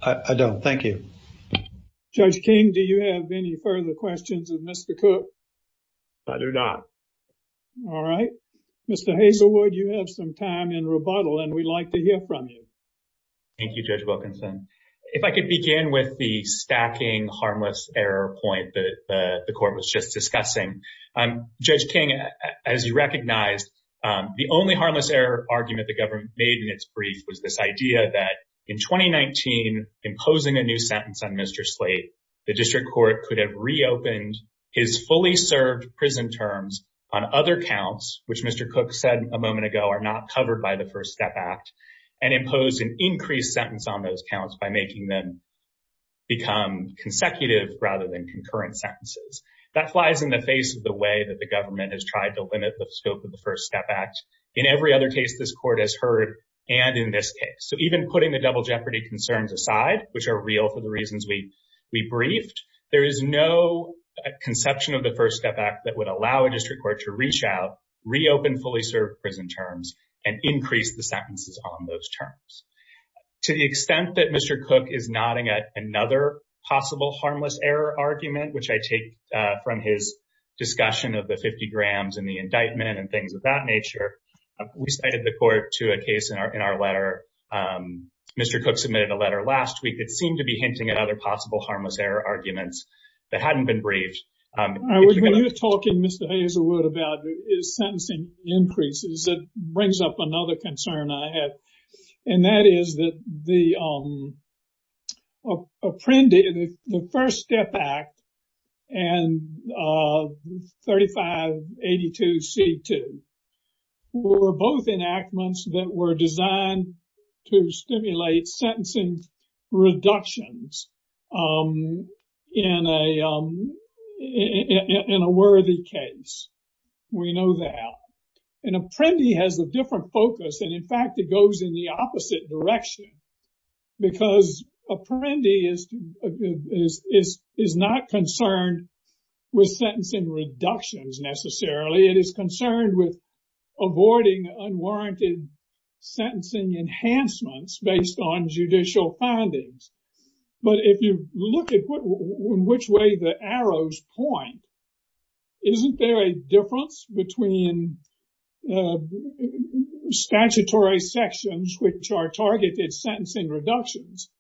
I don't, thank you. Judge King, do you have any further questions of Mr. Cook? I do not. All right, Mr. Hazelwood, you have some time in rebuttal and we'd like to hear from you. Thank you, Judge Wilkinson. If I could begin with the stacking harmless error point that the court was just discussing. Judge King, as you recognized, the only harmless error argument the government made in its brief was this idea that, in 2019, imposing a new sentence on Mr. Slate, the district court could have reopened his fully served prison terms on other counts, which Mr. Cook said a moment ago are not covered by the First Step Act, and impose an increased sentence on those counts by making them become consecutive rather than concurrent sentences. That flies in the face of the way that the government has tried to limit the scope of the First Step Act in every other case this court has heard and in this case. So even putting the double jeopardy concerns aside, which are real for the reasons we briefed, there is no conception of the First Step Act that would allow a district court to reach out, reopen fully served prison terms, and increase the sentences on those terms. To the extent that Mr. Cook is nodding at another possible harmless error argument, which I take from his discussion of the 50 grams and the indictment and things of that nature, we cited the court to a case in our letter. Mr. Cook submitted a letter last week that seemed to be hinting at other possible harmless error arguments that hadn't been briefed. When you're talking, Mr. Hazelwood, about sentencing increases, it brings up another concern I have, and that is that the Apprendi, the First Step Act and 3582C2 were both enactments that were designed to stimulate sentencing reductions in a worthy case. We know that. And Apprendi has a different focus, and in fact, it goes in the opposite direction because Apprendi is not concerned with sentencing reductions necessarily. It is concerned with avoiding unwarranted sentencing enhancements based on judicial findings. But if you look at which way the arrows point, isn't there a difference between statutory sections, which are targeted sentencing reductions,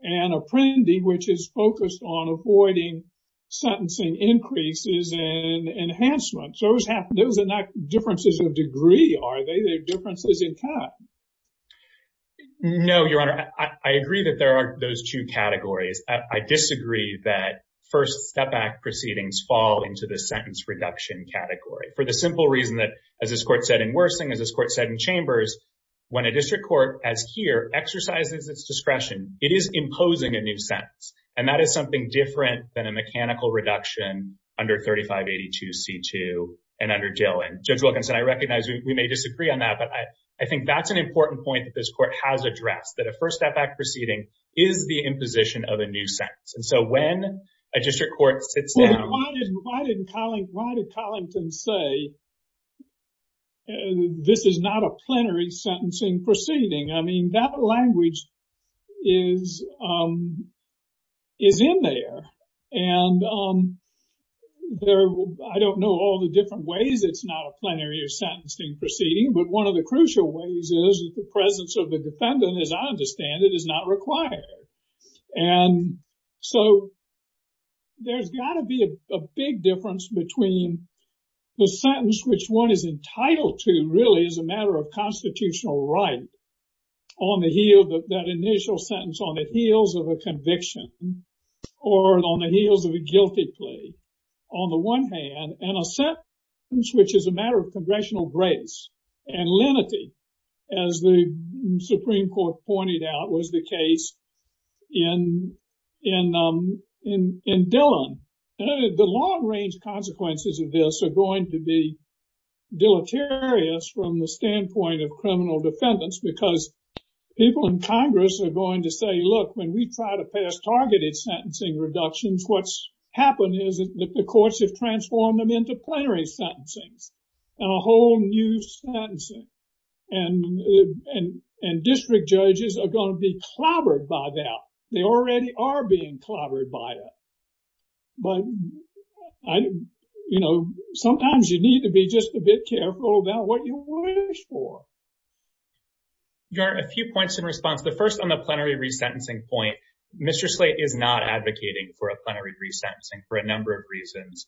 and Apprendi, which is focused on avoiding sentencing increases and enhancements? Those are not differences of degree, are they? They're differences in time. No, Your Honor. I agree that there are those two categories. I disagree that First Step Act proceedings fall into the sentence reduction category. For the simple reason that, as this Court said in Wersing, as this Court said in Chambers, when a district court, as here, exercises its discretion, it is imposing a new sentence. And that is something different than a mechanical reduction under 3582C2 and under Dill. And Judge Wilkinson, I recognize we may disagree on that, but I think that's an important point that this Court has addressed, that a First Step Act proceeding is the imposition of a new sentence. And so when a district court sits down— this is not a plenary sentencing proceeding. I mean, that language is in there. And I don't know all the different ways it's not a plenary or sentencing proceeding, but one of the crucial ways is the presence of the defendant, as I understand it, is not required. And so there's got to be a big difference between the sentence, which one is entitled to, really, as a matter of constitutional right, on the heel of that initial sentence, on the heels of a conviction or on the heels of a guilty plea, on the one hand, and a sentence which is a matter of congressional grace and lenity, as the Supreme Court pointed out was the case in Dillon. The long-range consequences of this are going to be deleterious from the standpoint of criminal defendants because people in Congress are going to say, look, when we try to pass targeted sentencing reductions, what's happened is that the courts have transformed them into plenary sentencings and a whole new sentencing. And district judges are going to be clobbered by that. They already are being clobbered by it. But, you know, sometimes you need to be just a bit careful about what you wish for. Your Honor, a few points in response. The first on the plenary resentencing point, Mr. Slate is not advocating for a plenary resentencing for a number of reasons.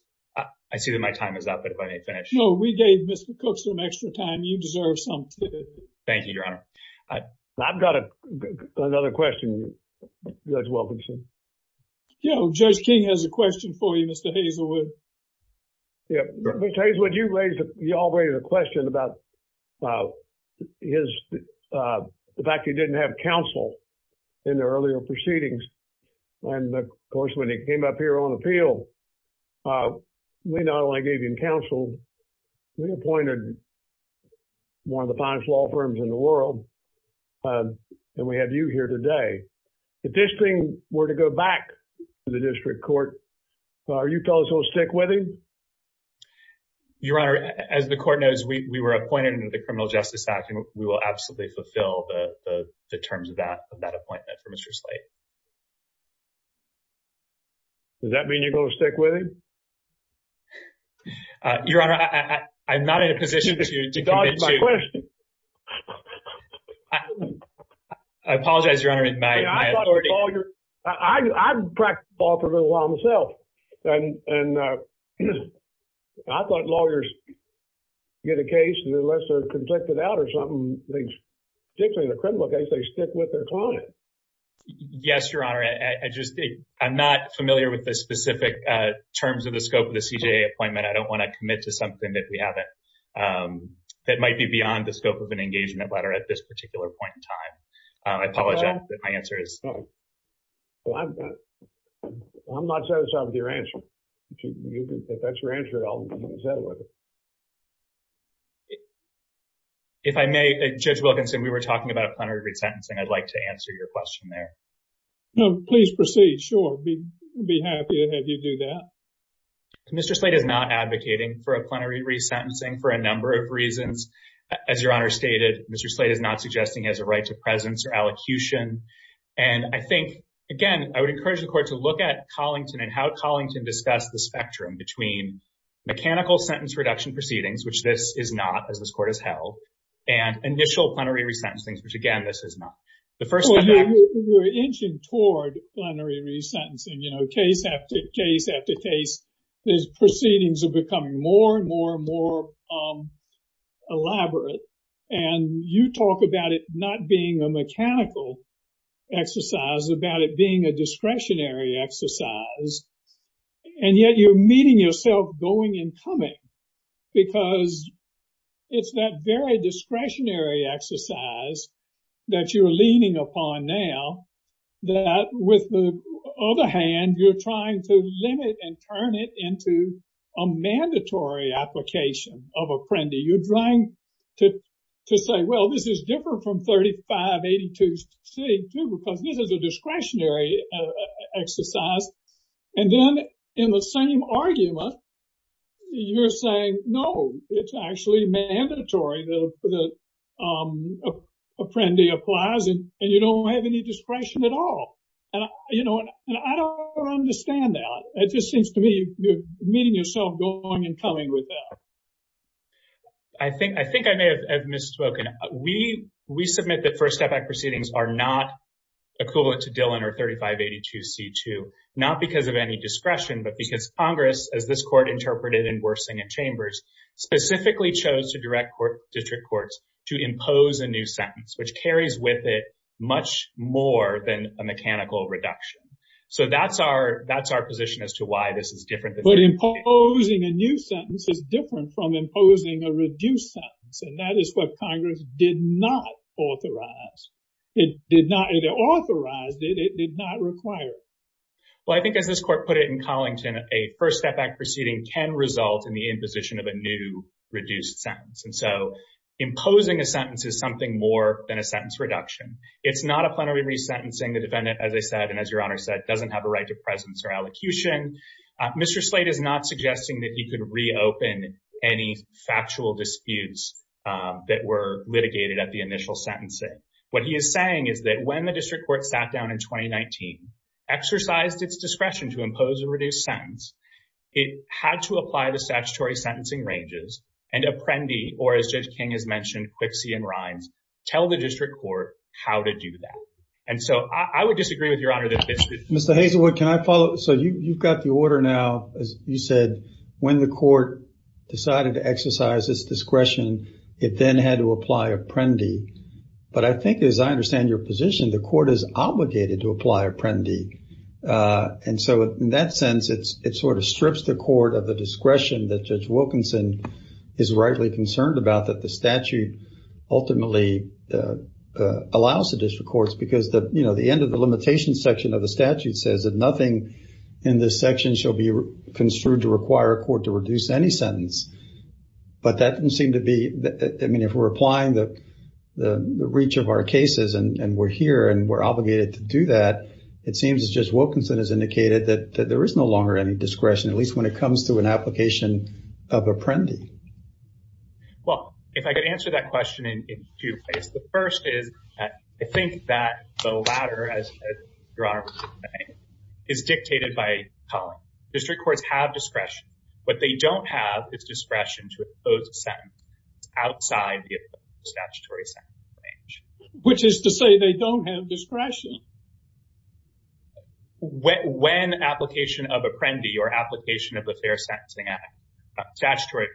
I see that my time is up, but if I may finish. No, we gave Mr. Cook some extra time. You deserve some too. Thank you, Your Honor. I've got another question, Judge Wilkinson. Yeah, Judge King has a question for you, Mr. Hazelwood. Yeah, Mr. Hazelwood, you raised, you all raised a question about the fact you didn't have counsel in the earlier proceedings. And of course, when he came up here on appeal, we not only gave him counsel, we appointed one of the finest law firms in the world. And we have you here today. If this thing were to go back to the district court, are you telling us we'll stick with him? Your Honor, as the court knows, we were appointed under the Criminal Justice Act, and we will absolutely fulfill the terms of that appointment for Mr. Slate. Does that mean you're going to stick with him? Your Honor, I'm not in a position to- You just dodged my question. I apologize, Your Honor, in my authority- I thought lawyers- I've practiced law for a little while myself. And I thought lawyers get a case, and unless they're conflicted out or something, they, particularly the criminal case, they stick with their client. Yes, Your Honor. I'm not familiar with the specific terms of the scope of the CJA appointment. I don't want to commit to something that we haven't, that might be beyond the scope of an engagement letter at this particular point in time. I apologize, but my answer is- I'm not satisfied with your answer. If that's your answer, I'll settle with it. If I may, Judge Wilkinson, we were talking about a plenary resentencing. I'd like to answer your question there. No, please proceed. Sure, I'd be happy to have you do that. Mr. Slate is not advocating for a plenary resentencing for a number of reasons. As Your Honor stated, Mr. Slate is not suggesting he has a right to presence or allocution. And I think, again, I would encourage the Court to look at Collington and how Collington discussed the spectrum between mechanical sentence reduction proceedings, which this is not, as this Court has held, and initial plenary resentencing, which, again, this is not. The first- Well, you're inching toward plenary resentencing, you know, case after case after case. These proceedings are becoming more and more and more elaborate. And you talk about it not being a mechanical exercise, about it being a discretionary exercise. And yet you're meeting yourself going and coming because it's that very discretionary exercise that you're leaning upon now that, with the other hand, you're trying to limit and turn it into a mandatory application of apprendee. You're trying to say, well, this is different from 3582C, too, because this is a discretionary exercise. And then in the same argument, you're saying, no, it's actually mandatory that the apprendee applies and you don't have any discretion at all. And, you know, I don't understand that. It just seems to me you're meeting yourself going and coming with that. I think I may have misspoken. We submit that First Step Act proceedings are not equivalent to Dillon or 3582C, too, not because of any discretion, but because Congress, as this court interpreted in Worsing and Chambers, specifically chose to direct district courts to impose a new sentence, which carries with it much more than a mechanical reduction. So that's our position as to why this is different. But imposing a new sentence is different from imposing a reduced sentence. And that is what Congress did not authorize. It did not authorize it. It did not require it. Well, I think as this court put it in Collington, a First Step Act proceeding can result in the imposition of a new reduced sentence. And so imposing a sentence is something more than a sentence reduction. It's not a plenary re-sentencing. The defendant, as I said, and as Your Honor said, doesn't have a right to presence or allocution. Mr. Slate is not suggesting that he could reopen any factual disputes that were litigated at the initial sentencing. What he is saying is that when the district court sat down in 2019, exercised its discretion to impose a reduced sentence, it had to apply the statutory sentencing ranges and apprendee, or as Judge King has mentioned, quipsie and rhymes, tell the district court how to do that. And so I would disagree with Your Honor Mr. Hazelwood, can I follow? So you've got the order now, as you said, when the court decided to exercise its discretion, it then had to apply apprendee. But I think, as I understand your position, the court is obligated to apply apprendee. And so in that sense, it sort of strips the court of the discretion that Judge Wilkinson is rightly concerned about, that the statute ultimately allows the district courts, because the, you know, the end of the limitation section of the statute says that nothing in this section shall be construed to require a court to reduce any sentence. But that doesn't seem to be, I mean, if we're applying the reach of our cases and we're here and we're obligated to do that, it seems as Judge Wilkinson has indicated that there is no longer any discretion, at least when it comes to an application of apprendee. Well, if I could answer that question in two ways. The first is, I think that the latter, as your Honor would say, is dictated by Cullen. District courts have discretion. What they don't have is discretion to impose a sentence outside the statutory sentence range. Which is to say they don't have discretion. When application of apprendee or application of the Fair Sentencing Act, statutory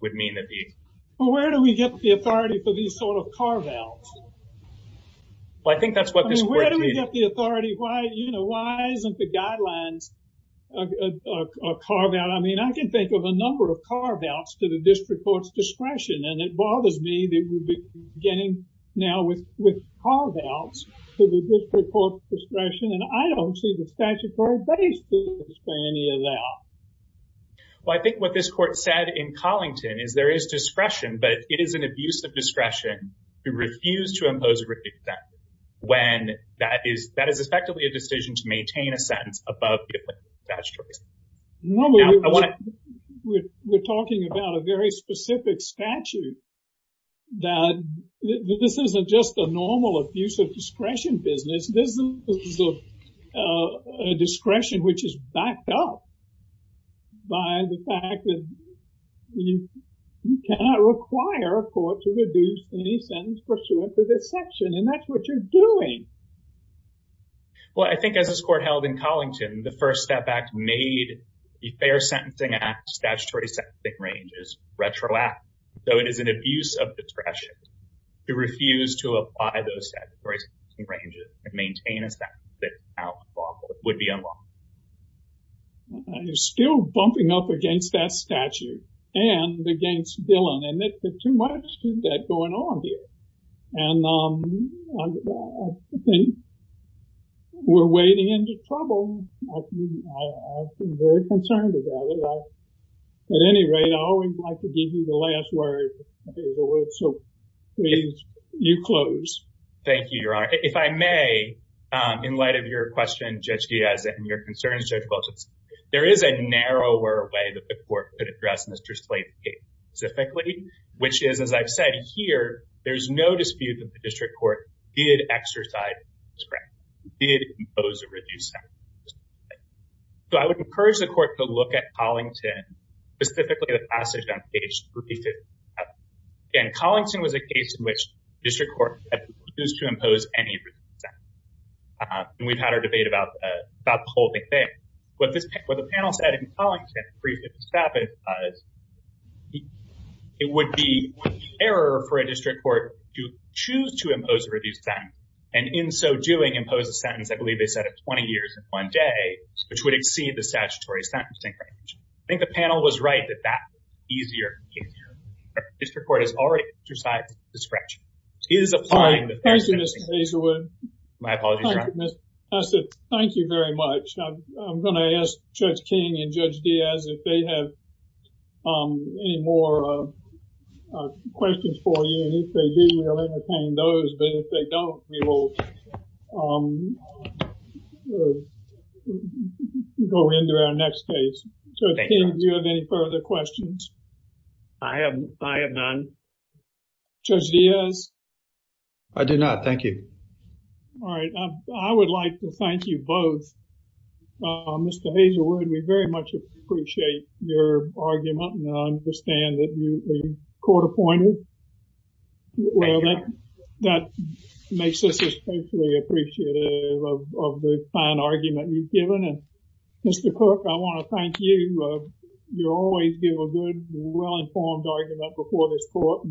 would mean that the... Well, where do we get the authority for these sort of carve-outs? Well, I think that's what this court... Where do we get the authority? Why, you know, why isn't the guidelines a carve-out? I mean, I can think of a number of carve-outs to the district court's discretion and it bothers me that we're beginning now with carve-outs to the district court's discretion and I don't see the statutory basis for any of that. Well, I think what this court said in Collington is there is discretion, but it is an abuse of discretion to refuse to impose a written sentence when that is effectively a decision to maintain a sentence above the applicable statutories. We're talking about a very specific statute that this isn't just a normal abuse of discretion business. This is a discretion which is backed up by the fact that you cannot require a court to reduce any sentence pursuant to this section and that's what you're doing. Well, I think as this court held in Collington, the First Step Act made the Fair Sentencing Act statutory sentencing ranges retroactive. So it is an abuse of discretion to refuse to apply those statutory sentencing ranges and maintain a sentence that would be unlawful. You're still bumping up against that statute and against Dillon and there's too much of that going on here. And I think we're wading into trouble. I've been very concerned about it. At any rate, I always like to give you the last word. So please, you close. Thank you, Your Honor. If I may, in light of your question, Judge Diaz, and your concerns, Judge Bolton, there is a narrower way that the court could address Mr. Slate's case specifically, which is, as I've said here, there's no dispute that the district court did exercise discretion, did impose a reduced sentence. So I would encourage the court to look at Collington, specifically the passage on page 357. Again, Collington was a case in which district court refused to impose any reduced sentence. And we've had our debate about the whole big thing. What the panel said in Collington, briefly to stop it, it would be an error for a district court to choose to impose a reduced sentence and in so doing, impose a sentence, I believe they said, of 20 years and one day, which would exceed the statutory sentencing range. I think the panel was right that that was easier. District court has already exercised discretion. Thank you, Mr. Hazelwood. My apologies, Your Honor. Mr. Hassett, thank you very much. I'm going to ask Judge King and Judge Diaz if they have any more questions for you. And if they do, we'll entertain those. But if they don't, we will go into our next case. Judge King, do you have any further questions? I have none. Judge Diaz? I do not. Thank you. All right. I would like to thank you both. Mr. Hazelwood, we very much appreciate your argument and I understand that you were court appointed. Well, that makes us especially appreciative of the fine argument you've given. And Mr. Cook, I want to thank you. You always give a good, well-informed argument before this court.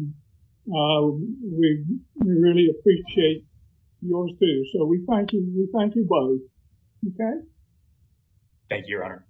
We really appreciate yours, too. So we thank you. We thank you both. Thank you, Your Honor.